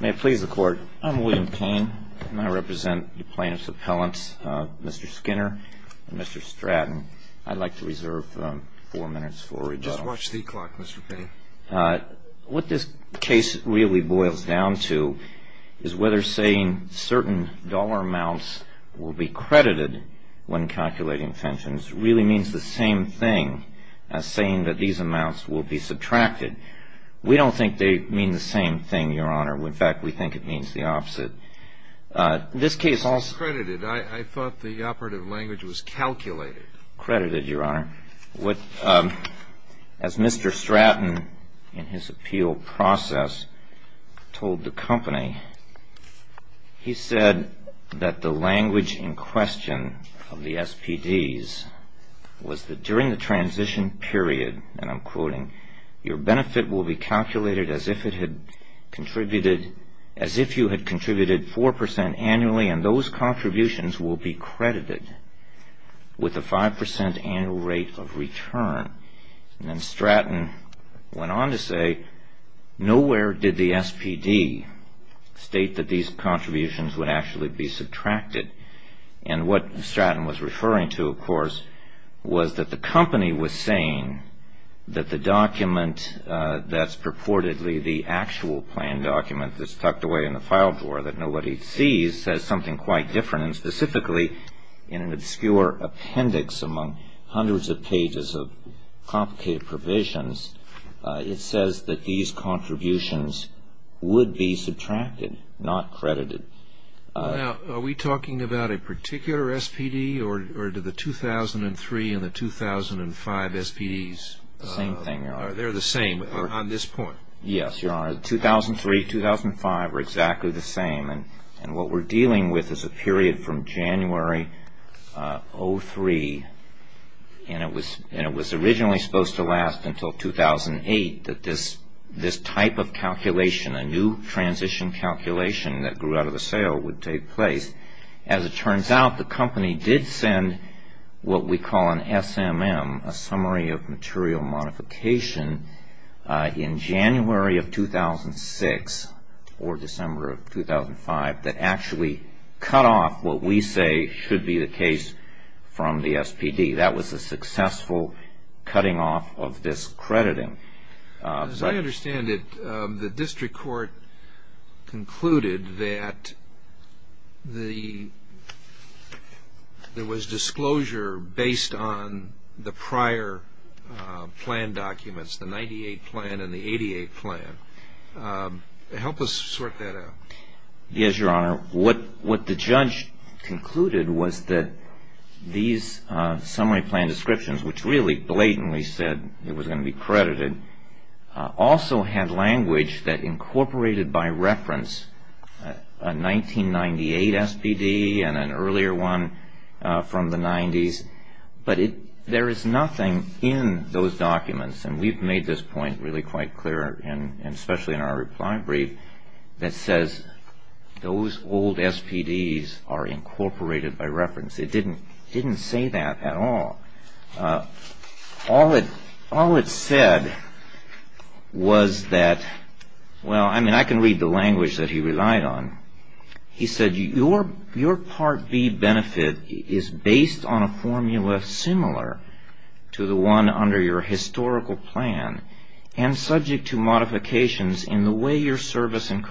May it please the Court, I'm William Payne, and I represent the plaintiff's appellants, Mr. Skinner and Mr. Stratton. I'd like to reserve four minutes for rebuttal. Just watch the clock, Mr. Payne. What this case really boils down to is whether saying certain dollar amounts will be credited when calculating pensions really means the same thing as saying that these amounts will be subtracted. We don't think they mean the same thing, Your Honor. In fact, we think it means the opposite. This case also... It's credited. I thought the operative language was calculated. Credited, Your Honor. As Mr. Stratton, in his appeal process, told the company, he said that the language in question of the SPDs was that during the transition period, and I'm quoting, your benefit will be calculated as if you had contributed 4% annually and those contributions will be credited with a 5% annual rate of return. And Stratton went on to say, nowhere did the SPD state that these contributions would actually be subtracted. And what Stratton was referring to, of course, was that the company was saying that the document that's purportedly the actual plan document that's tucked away in the file drawer that nobody sees says something quite different. And specifically, in an obscure appendix among hundreds of pages of complicated provisions, it says that these contributions would be subtracted, not credited. Now, are we talking about a particular SPD, or do the 2003 and the 2005 SPDs... Same thing, Your Honor. They're the same on this point? Yes, Your Honor. 2003, 2005 were exactly the same. And what we're dealing with is a period from January 03, and it was originally supposed to last until 2008, that this type of calculation, a new transition calculation that grew out of the sale, would take place. As it turns out, the company did send what we call an SMM, a summary of material modification, in January of 2006 or December of 2005 that actually cut off what we say should be the case from the SPD. That was a successful cutting off of this crediting. As I understand it, the district court concluded that there was disclosure based on the prior plan documents, the 98 plan and the 88 plan. Help us sort that out. Yes, Your Honor. What the judge concluded was that these summary plan descriptions, which really blatantly said it was going to be credited, also had language that incorporated by reference a 1998 SPD and an earlier one from the 90s, but there is nothing in those documents, and we've made this point really quite clear, especially in our reply brief, that says those old SPDs are incorporated by reference. It didn't say that at all. All it said was that, well, I mean, I can read the language that he relied on. He said your Part B benefit is based on a formula similar to the one under your historical plan and subject to modifications in the way your service and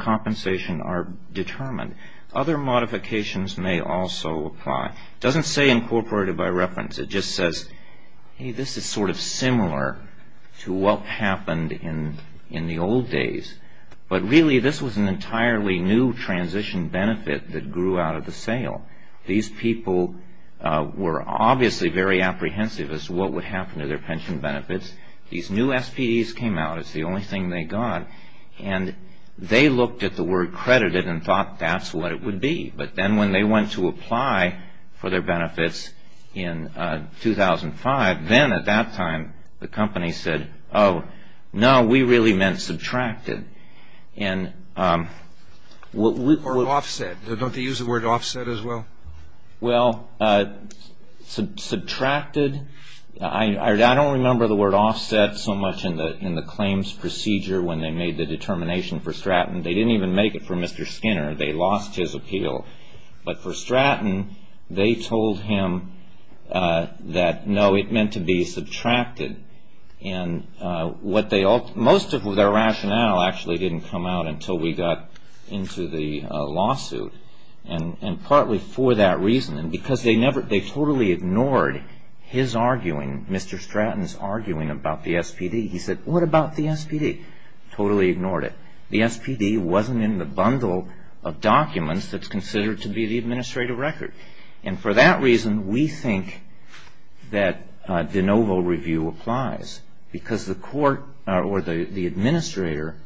compensation are determined. Other modifications may also apply. It doesn't say incorporated by reference. It just says, hey, this is sort of similar to what happened in the old days, but really this was an entirely new transition benefit that grew out of the sale. These people were obviously very apprehensive as to what would happen to their pension benefits. These new SPDs came out as the only thing they got, and they looked at the word credited and thought that's what it would be. But then when they went to apply for their benefits in 2005, then at that time the company said, oh, no, we really meant subtracted. Or offset. Don't they use the word offset as well? Well, subtracted, I don't remember the word offset so much in the claims procedure when they made the determination for Stratton. They didn't even make it for Mr. Skinner. They lost his appeal. But for Stratton, they told him that, no, it meant to be subtracted. Most of their rationale actually didn't come out until we got into the lawsuit, and partly for that reason. Because they totally ignored his arguing, Mr. Stratton's arguing about the SPD. He said, what about the SPD? Totally ignored it. The SPD wasn't in the bundle of documents that's considered to be the administrative record. And for that reason, we think that de novo review applies. Because the court or the administrator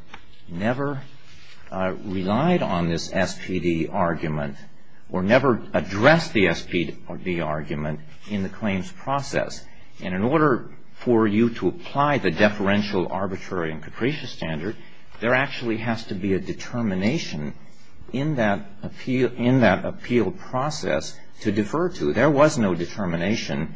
never relied on this SPD argument or never addressed the SPD argument in the claims process. And in order for you to apply the deferential arbitrary and capricious standard, there actually has to be a determination in that appeal process to defer to. There was no determination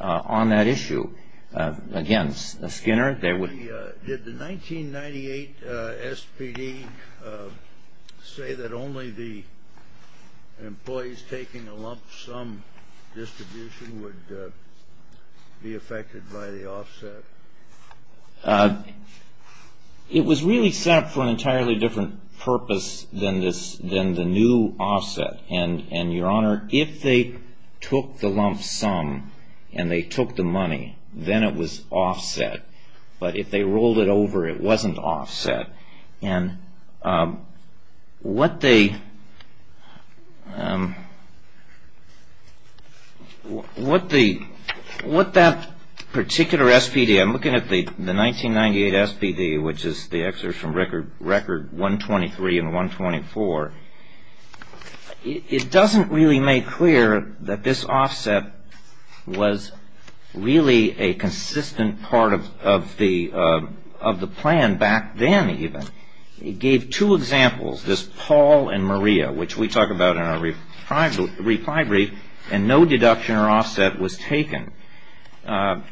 on that issue against Skinner. Did the 1998 SPD say that only the employees taking a lump sum distribution would be affected by the offset? It was really set up for an entirely different purpose than the new offset. And, Your Honor, if they took the lump sum and they took the money, then it was offset. But if they rolled it over, it wasn't offset. And what that particular SPD, I'm looking at the 1998 SPD, which is the excerpt from Record 123 and 124, it doesn't really make clear that this offset was really a consistent part of the plan back then. It gave two examples, this Paul and Maria, which we talk about in our reply brief, and no deduction or offset was taken. So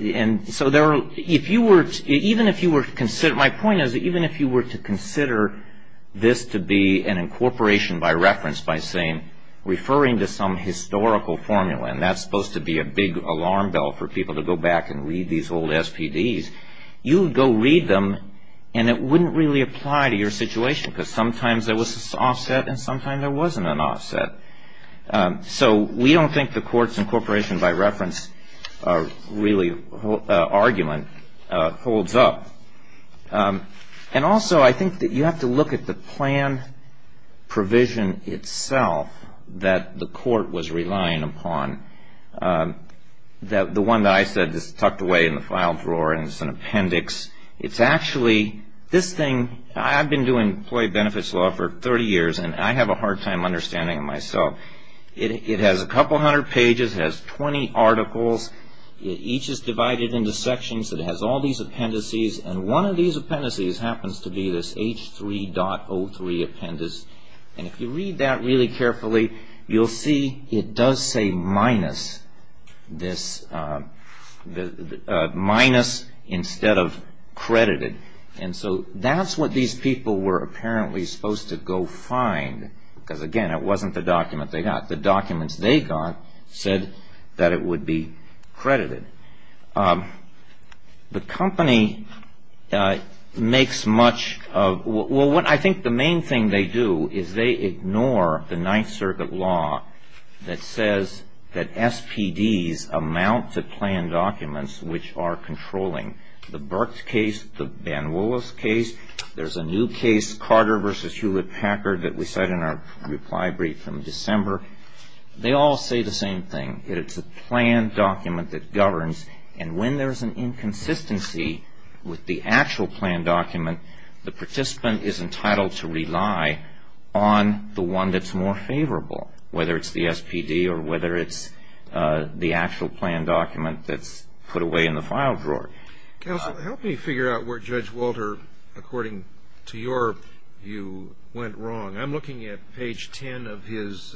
even if you were to consider this to be an incorporation by reference by saying, referring to some historical formula, and that's supposed to be a big alarm bell for people to go back and read these old SPDs, you would go read them and it wouldn't really apply to your situation because sometimes there was this offset and sometimes there wasn't an offset. So we don't think the courts incorporation by reference really argument holds up. And also I think that you have to look at the plan provision itself that the court was relying upon. The one that I said is tucked away in the file drawer and it's an appendix. It's actually, this thing, I've been doing employee benefits law for 30 years and I have a hard time understanding it myself. It has a couple hundred pages. It has 20 articles. Each is divided into sections. It has all these appendices. And one of these appendices happens to be this H3.03 appendix. And if you read that really carefully, you'll see it does say minus this, minus instead of credited. And so that's what these people were apparently supposed to go find because, again, it wasn't the document they got. The documents they got said that it would be credited. The company makes much of, well, what I think the main thing they do is they ignore the Ninth Circuit law that says that SPDs amount to plan documents which are controlling the Burke case, the Van Willis case. There's a new case, Carter v. Hewlett-Packard, that we said in our reply brief from December. They all say the same thing, that it's a plan document that governs. And when there's an inconsistency with the actual plan document, the participant is entitled to rely on the one that's more favorable, whether it's the SPD or whether it's the actual plan document that's put away in the file drawer. Counsel, help me figure out where Judge Walter, according to your view, went wrong. I'm looking at page 10 of his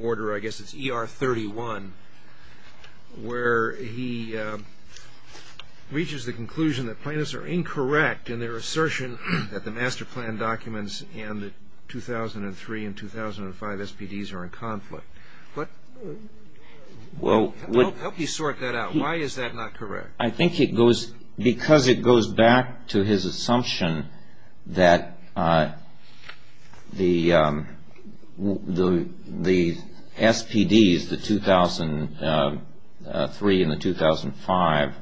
order. I guess it's ER 31 where he reaches the conclusion that plaintiffs are incorrect in their assertion that the master plan documents and the 2003 and 2005 SPDs are in conflict. Help me sort that out. Why is that not correct? Because it goes back to his assumption that the SPDs, the 2003 and the 2005,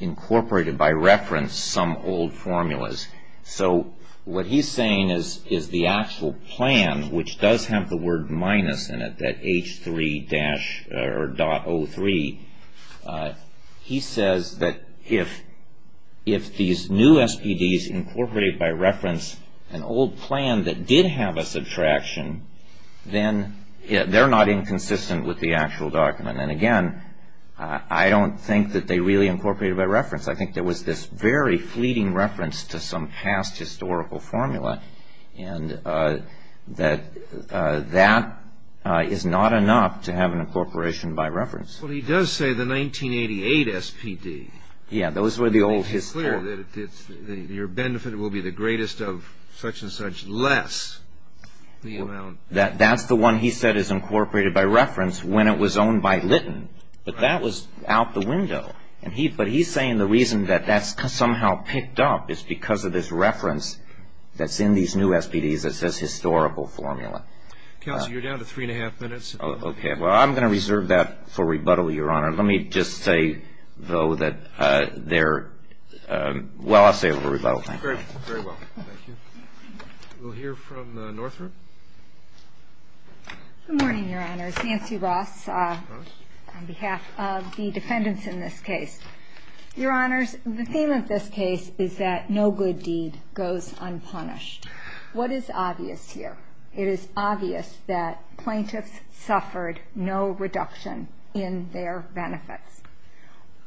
incorporated by reference some old formulas. So what he's saying is the actual plan, which does have the word minus in it, that H3.03, he says that if these new SPDs incorporated by reference an old plan that did have a subtraction, then they're not inconsistent with the actual document. And again, I don't think that they really incorporated by reference. I think there was this very fleeting reference to some past historical formula, and that that is not enough to have an incorporation by reference. Well, he does say the 1988 SPD. Yeah. Those were the old historical. It's clear that your benefit will be the greatest of such and such, less the amount. That's the one he said is incorporated by reference when it was owned by Litton. Right. But that was out the window. But he's saying the reason that that's somehow picked up is because of this reference that's in these new SPDs that says historical formula. Counsel, you're down to three and a half minutes. Okay. Well, I'm going to reserve that for rebuttal, Your Honor. Let me just say, though, that there — well, I'll save it for rebuttal. Thank you. Very well. Thank you. We'll hear from the Northrop. Good morning, Your Honor. My name is Nancy Ross on behalf of the defendants in this case. Your Honors, the theme of this case is that no good deed goes unpunished. What is obvious here? It is obvious that plaintiffs suffered no reduction in their benefits.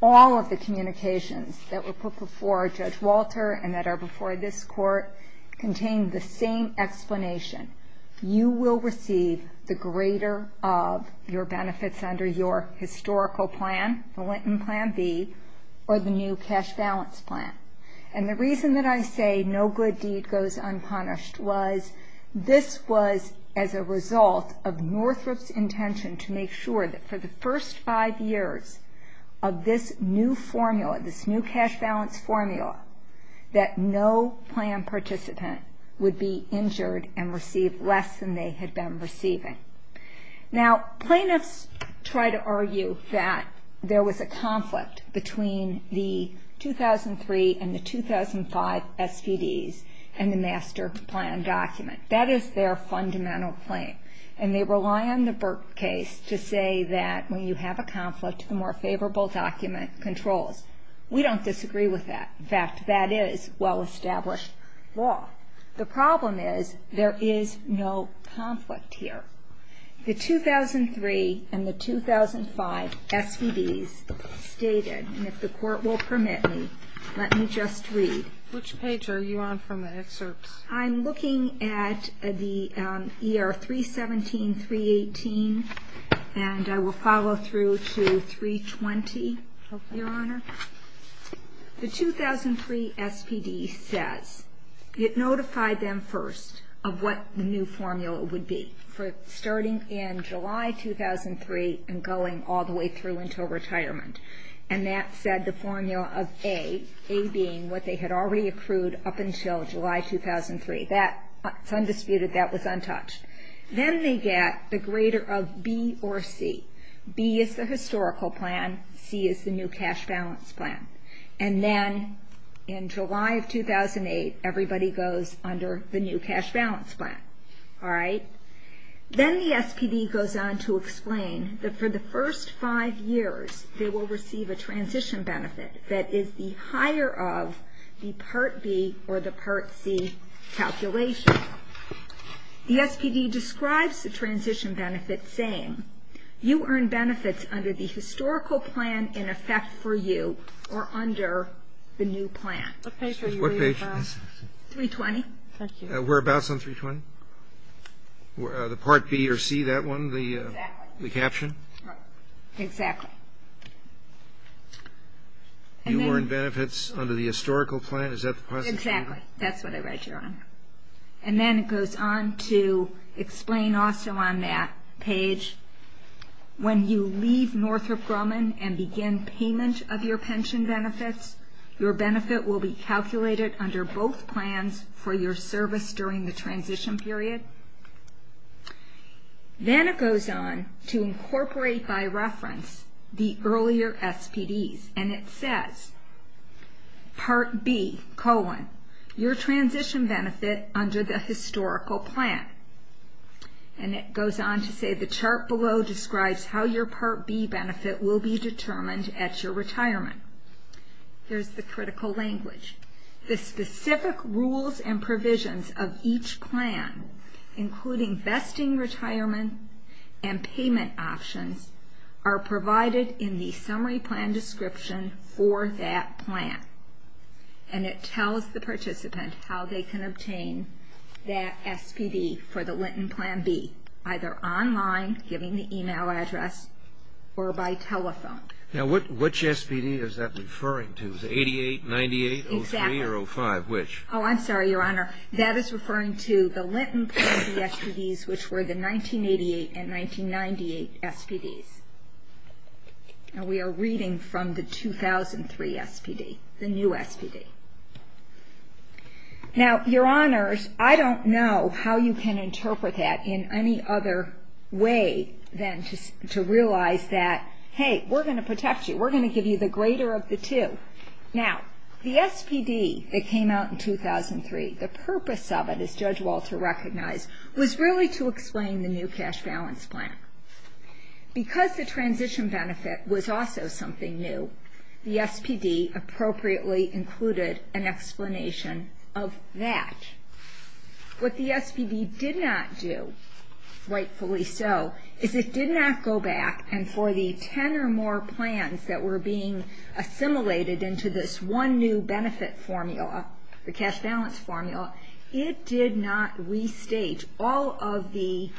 All of the communications that were put before Judge Walter and that are before this court contain the same explanation. You will receive the greater of your benefits under your historical plan, the Linton Plan B, or the new cash balance plan. And the reason that I say no good deed goes unpunished was this was as a result of Northrop's intention to make sure that for the first five years of this new formula, this new cash balance formula, that no plan participant would be injured and receive less than they had been receiving. Now, plaintiffs try to argue that there was a conflict between the 2003 and the 2005 SVDs and the master plan document. That is their fundamental claim. And they rely on the Burke case to say that when you have a conflict, the more favorable document controls. We don't disagree with that. In fact, that is well-established law. The problem is there is no conflict here. The 2003 and the 2005 SVDs stated, and if the court will permit me, let me just read. Which page are you on from the excerpts? I'm looking at the ER 317, 318, and I will follow through to 320, Your Honor. The 2003 SVD says it notified them first of what the new formula would be for starting in July 2003 and going all the way through until retirement. And that said, the formula of A, A being what they had already accrued up until July 2003. That is undisputed. That was untouched. Then they get the greater of B or C. B is the historical plan. C is the new cash balance plan. And then in July of 2008, everybody goes under the new cash balance plan. All right? Then the SPD goes on to explain that for the first five years, they will receive a transition benefit that is the higher of the Part B or the Part C calculation. The SPD describes the transition benefit saying, you earn benefits under the historical plan in effect for you or under the new plan. What page are you reading from? 320. Thank you. Whereabouts on 320? The Part B or C, that one? Exactly. The caption? Exactly. You earn benefits under the historical plan. Is that the proposition? Exactly. That's what I read, Your Honor. And then it goes on to explain also on that page, when you leave Northrop Grumman and begin payment of your pension benefits, your benefit will be calculated under both plans for your service during the transition period. Then it goes on to incorporate by reference the earlier SPDs. And it says, Part B, colon, your transition benefit under the historical plan. And it goes on to say, the chart below describes how your Part B benefit will be determined at your retirement. There's the critical language. The specific rules and provisions of each plan, including vesting retirement and payment options, are provided in the summary plan description for that plan. And it tells the participant how they can obtain that SPD for the Linton Plan B, either online, giving the e-mail address, or by telephone. Now, which SPD is that referring to? Is it 88, 98, 03, or 05? Exactly. Which? Oh, I'm sorry, Your Honor. That is referring to the Linton Plan B SPDs, which were the 1988 and 1998 SPDs. And we are reading from the 2003 SPD, the new SPD. Now, Your Honors, I don't know how you can interpret that in any other way than to realize that, hey, we're going to protect you. We're going to give you the greater of the two. Now, the SPD that came out in 2003, the purpose of it, as Judge Walter recognized, was really to explain the new cash balance plan. Because the transition benefit was also something new, the SPD appropriately included an explanation of that. What the SPD did not do, rightfully so, is it did not go back, and for the ten or more plans that were being assimilated into this one new benefit formula, the cash balance formula, it did not restate all of the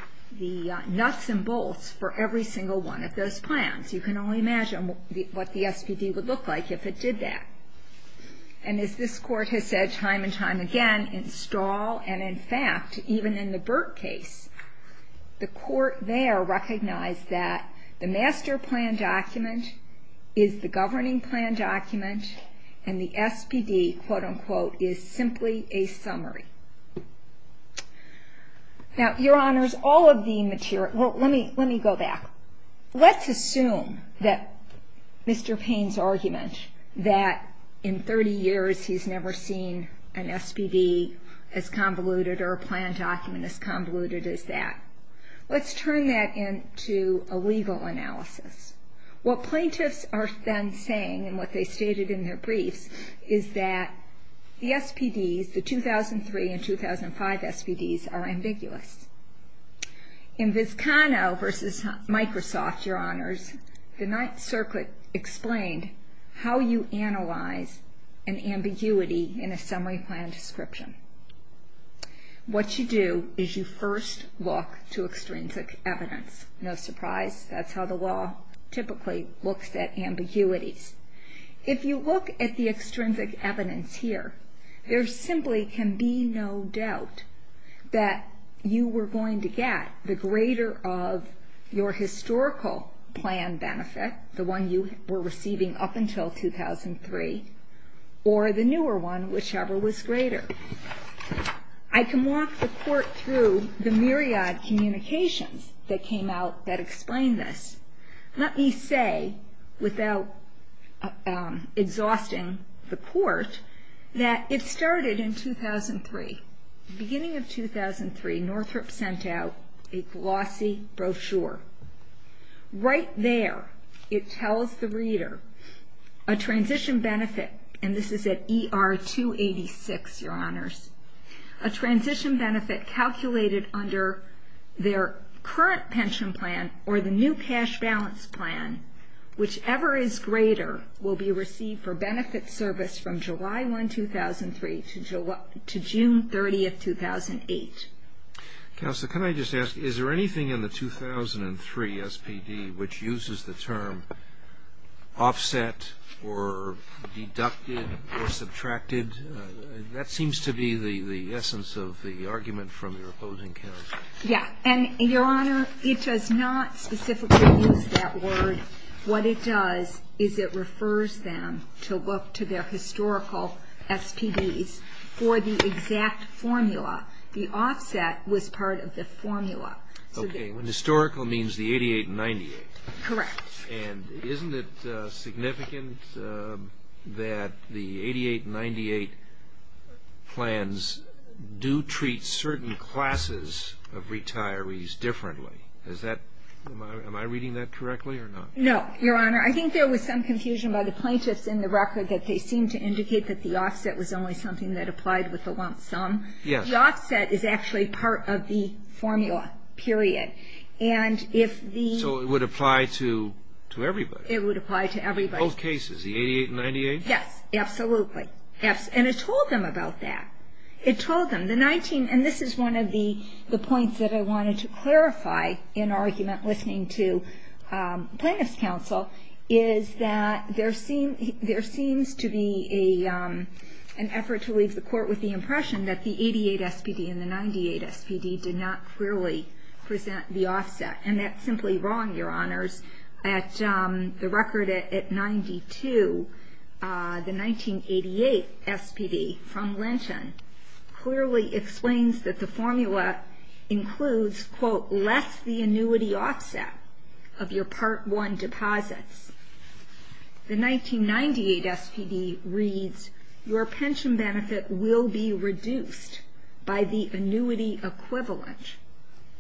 nuts and bolts for every single one of those plans. You can only imagine what the SPD would look like if it did that. And as this Court has said time and time again, in Stahl and, in fact, even in the Burke case, the Court there recognized that the master plan document is the governing plan document, and the SPD, quote, unquote, is simply a summary. Now, Your Honors, all of the material ñ well, let me go back. Let's assume that Mr. Payne's argument that in 30 years he's never seen an SPD as convoluted or a plan document as convoluted as that. Let's turn that into a legal analysis. What plaintiffs are then saying, and what they stated in their briefs, is that the SPDs, the 2003 and 2005 SPDs, are ambiguous. In Viscano v. Microsoft, Your Honors, the Ninth Circuit explained how you analyze an ambiguity in a summary plan description. What you do is you first look to extrinsic evidence. No surprise, that's how the law typically looks at ambiguities. If you look at the extrinsic evidence here, there simply can be no doubt that you were going to get the greater of your historical plan benefit, the one you were receiving up until 2003, or the newer one, whichever was greater. I can walk the Court through the myriad communications that came out that explained this. Let me say, without exhausting the Court, that it started in 2003. Beginning of 2003, Northrop sent out a glossy brochure. Right there, it tells the reader a transition benefit, and this is at ER 286, Your Honors, a transition benefit calculated under their current pension plan or the new cash balance plan, whichever is greater, will be received for benefit service from July 1, 2003 to June 30, 2008. Counsel, can I just ask, is there anything in the 2003 SPD which uses the term offset or deducted or subtracted? That seems to be the essence of the argument from your opposing counsel. Yeah. And, Your Honor, it does not specifically use that word. What it does is it refers them to look to their historical SPDs for the exact formula. The offset was part of the formula. Okay. Historical means the 88 and 98. Correct. And isn't it significant that the 88 and 98 plans do treat certain classes of retirees differently? Am I reading that correctly or not? No, Your Honor. I think there was some confusion by the plaintiffs in the record that they seemed to indicate that the offset was only something that applied with the lump sum. Yes. The offset is actually part of the formula, period. So it would apply to everybody? It would apply to everybody. Both cases, the 88 and 98? Yes, absolutely. And it told them about that. It told them. And this is one of the points that I wanted to clarify in argument listening to plaintiff's counsel, is that there seems to be an effort to leave the court with the impression that the 88 SPD and the 98 SPD did not clearly present the offset. And that's simply wrong, Your Honors. At the record at 92, the 1988 SPD from Lynchon clearly explains that the formula includes, quote, less the annuity offset of your Part 1 deposits. The 1998 SPD reads, your pension benefit will be reduced by the annuity equivalent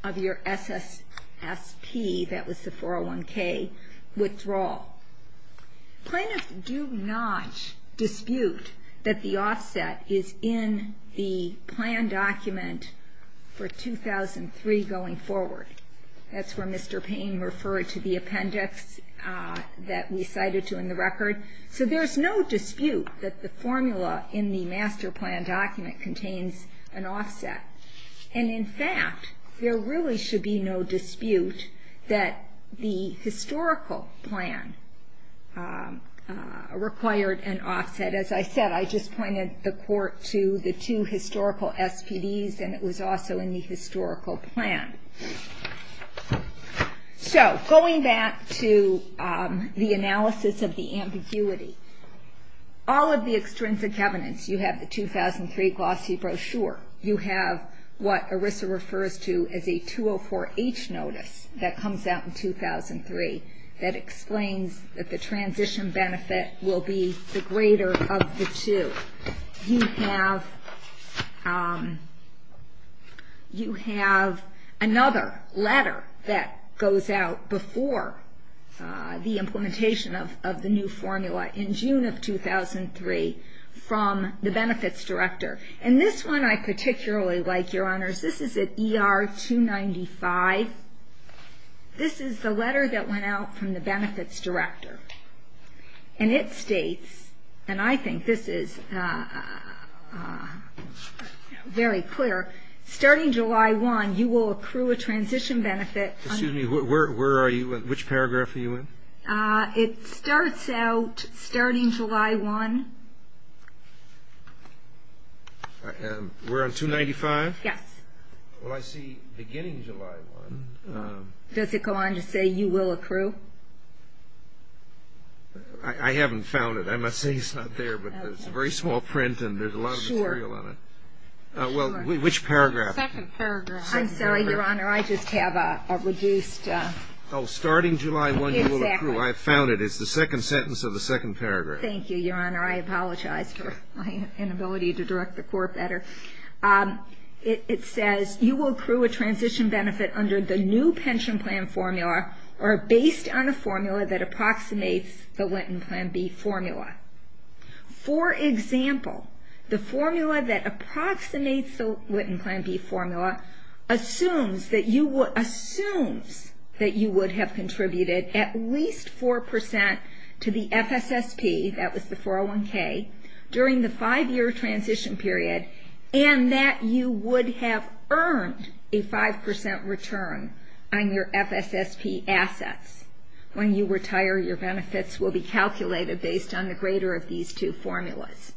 of your SSSP, that was the 401K, withdrawal. Plaintiffs do not dispute that the offset is in the plan document for 2003 going forward. That's where Mr. Payne referred to the appendix that we cited to in the record. So there's no dispute that the formula in the master plan document contains an offset. And, in fact, there really should be no dispute that the historical plan required an offset. As I said, I just pointed the court to the two historical SPDs, and it was also in the historical plan. So going back to the analysis of the ambiguity, all of the extrinsic evidence, you have the 2003 glossy brochure. You have what ERISA refers to as a 204H notice that comes out in 2003 that explains that the transition benefit will be the greater of the two. You have another letter that goes out before the implementation of the new formula in June of 2003 from the benefits director, and this one I particularly like, Your Honors. This is at ER 295. This is the letter that went out from the benefits director, and it states, and I think this is very clear, starting July 1, you will accrue a transition benefit. Excuse me. Where are you? Which paragraph are you in? It starts out starting July 1. We're on 295? Yes. Well, I see beginning July 1. Does it go on to say you will accrue? I haven't found it. I must say it's not there, but it's a very small print, and there's a lot of material on it. Well, which paragraph? Second paragraph. I'm sorry, Your Honor. I just have a reduced. Oh, starting July 1, you will accrue. I found it. It's the second sentence of the second paragraph. Thank you, Your Honor. I apologize for my inability to direct the court better. It says you will accrue a transition benefit under the new pension plan formula or based on a formula that approximates the Witten Plan B formula. For example, the formula that approximates the Witten Plan B formula assumes that you would have contributed at least 4% to the FSSP, that was the 401K, during the five-year transition period, and that you would have earned a 5% return on your FSSP assets. When you retire, your benefits will be calculated based on the greater of these two formulas.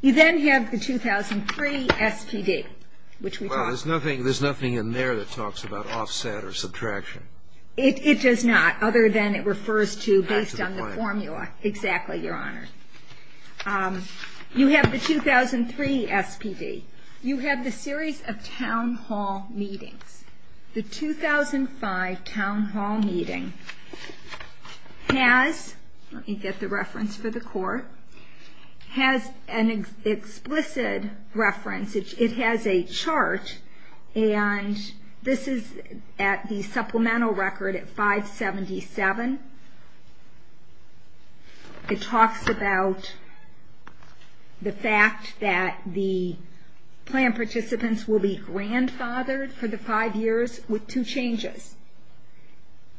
You then have the 2003 SPD, which we talked about. Well, there's nothing in there that talks about offset or subtraction. It does not, other than it refers to based on the formula. Back to the point. Exactly, Your Honor. You have the 2003 SPD. You have the series of town hall meetings. The 2005 town hall meeting has, let me get the reference for the court, has an explicit reference. It has a chart, and this is at the supplemental record at 577. It talks about the fact that the plan participants will be grandfathered for the five years with two changes.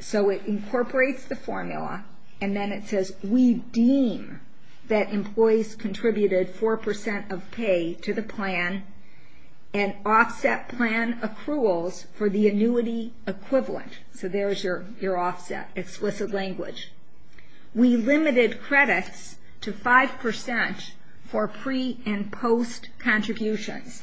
So it incorporates the formula, and then it says, we deem that employees contributed 4% of pay to the plan, and offset plan accruals for the annuity equivalent. So there's your offset, explicit language. We limited credits to 5% for pre- and post-contributions.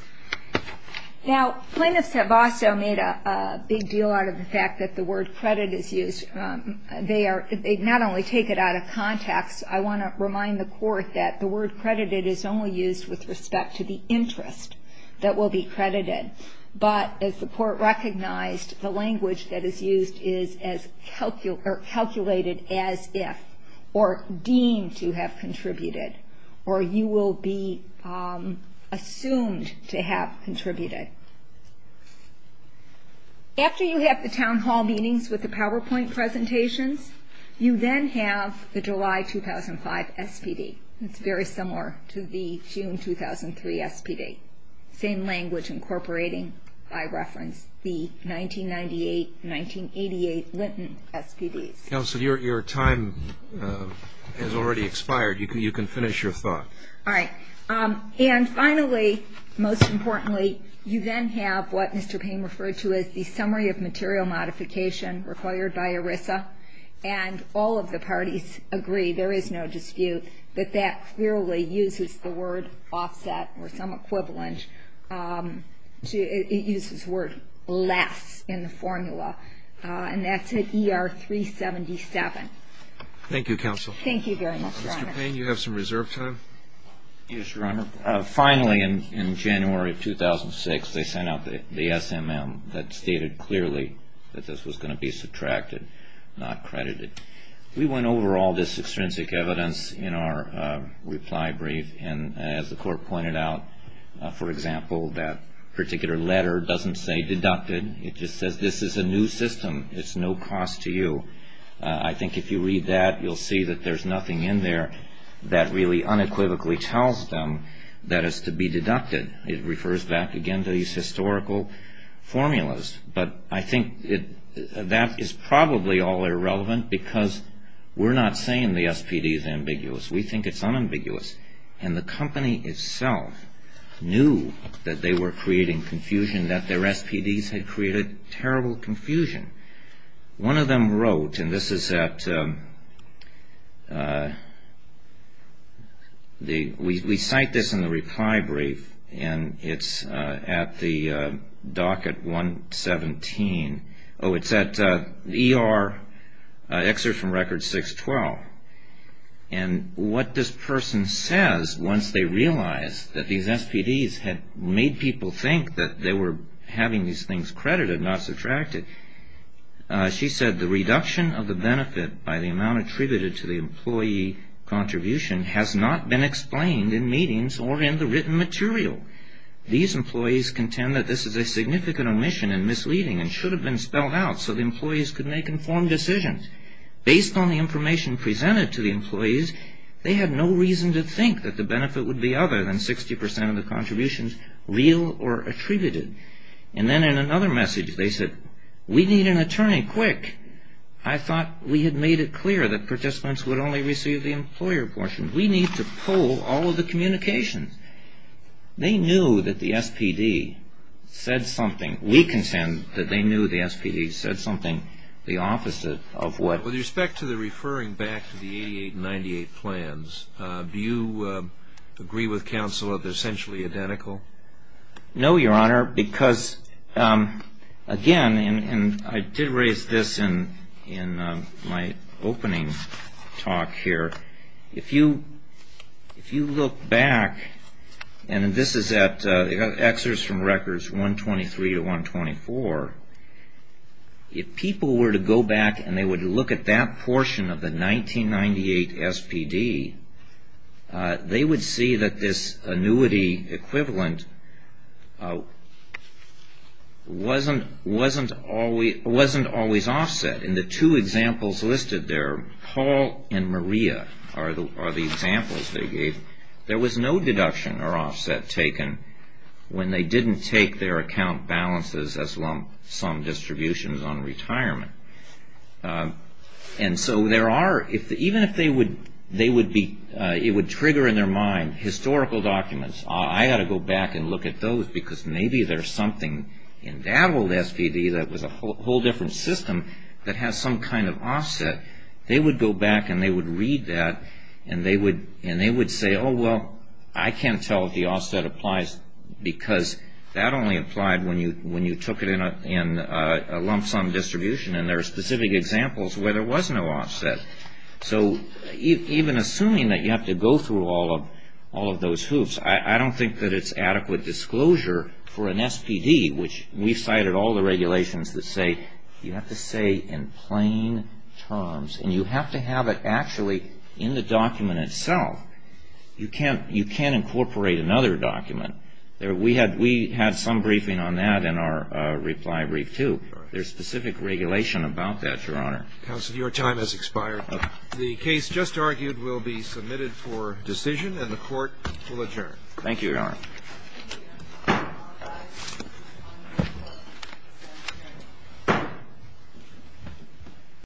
Now, plaintiffs have also made a big deal out of the fact that the word credit is used. They not only take it out of context. I want to remind the court that the word credited is only used with respect to the interest that will be credited, but as the court recognized, the language that is used is calculated as if, or deemed to have contributed, or you will be assumed to have contributed. After you have the town hall meetings with the PowerPoint presentations, you then have the July 2005 SPD. It's very similar to the June 2003 SPD, same language incorporating, by reference, the 1998-1988 Linton SPDs. Counsel, your time has already expired. You can finish your thought. All right. And finally, most importantly, you then have what Mr. Payne referred to as the summary of material modification required by ERISA, and all of the parties agree, there is no dispute, that that clearly uses the word offset or some equivalent. It uses the word less in the formula, and that's at ER-377. Thank you, Counsel. Thank you very much, Your Honor. Mr. Payne, you have some reserve time. Yes, Your Honor. Finally, in January 2006, they sent out the SMM that stated clearly that this was going to be subtracted, not credited. We went over all this extrinsic evidence in our reply brief, and as the court pointed out, for example, that particular letter doesn't say deducted. It just says this is a new system. It's no cost to you. I think if you read that, you'll see that there's nothing in there that really unequivocally tells them that it's to be deducted. It refers back, again, to these historical formulas. But I think that is probably all irrelevant because we're not saying the SPD is ambiguous. We think it's unambiguous, and the company itself knew that they were creating confusion, and that their SPDs had created terrible confusion. One of them wrote, and this is at the we cite this in the reply brief, and it's at the docket 117. Oh, it's at ER excerpt from record 612. And what this person says once they realize that these SPDs had made people think that they were having these things credited, not subtracted, she said the reduction of the benefit by the amount attributed to the employee contribution has not been explained in meetings or in the written material. These employees contend that this is a significant omission and misleading and should have been spelled out so the employees could make informed decisions. Based on the information presented to the employees, they had no reason to think that the benefit would be other than 60 percent of the contributions real or attributed. And then in another message they said, we need an attorney quick. I thought we had made it clear that participants would only receive the employer portion. We need to pull all of the communications. They knew that the SPD said something. We contend that they knew the SPD said something the opposite of what. With respect to the referring back to the 88 and 98 plans, do you agree with counsel that they're essentially identical? No, Your Honor, because again, and I did raise this in my opening talk here, if you look back, and this is at excerpts from records 123 to 124, if people were to go back and they would look at that portion of the 1998 SPD, they would see that this annuity equivalent wasn't always offset. In the two examples listed there, Paul and Maria are the examples they gave. There was no deduction or offset taken when they didn't take their account balances as lump sum distributions on retirement. And so there are, even if they would be, it would trigger in their mind historical documents. I ought to go back and look at those because maybe there's something in that old SPD that was a whole different system that has some kind of offset. They would go back and they would read that and they would say, oh, well, I can't tell if the offset applies because that only applied when you took it in a lump sum distribution and there are specific examples where there was no offset. So even assuming that you have to go through all of those hoops, I don't think that it's adequate disclosure for an SPD, which we cited all the regulations that say you have to say in plain terms and you have to have it actually in the document itself. You can't incorporate another document. We had some briefing on that in our reply brief, too. There's specific regulation about that, Your Honor. Counsel, your time has expired. The case just argued will be submitted for decision and the Court will adjourn. Thank you, Your Honor.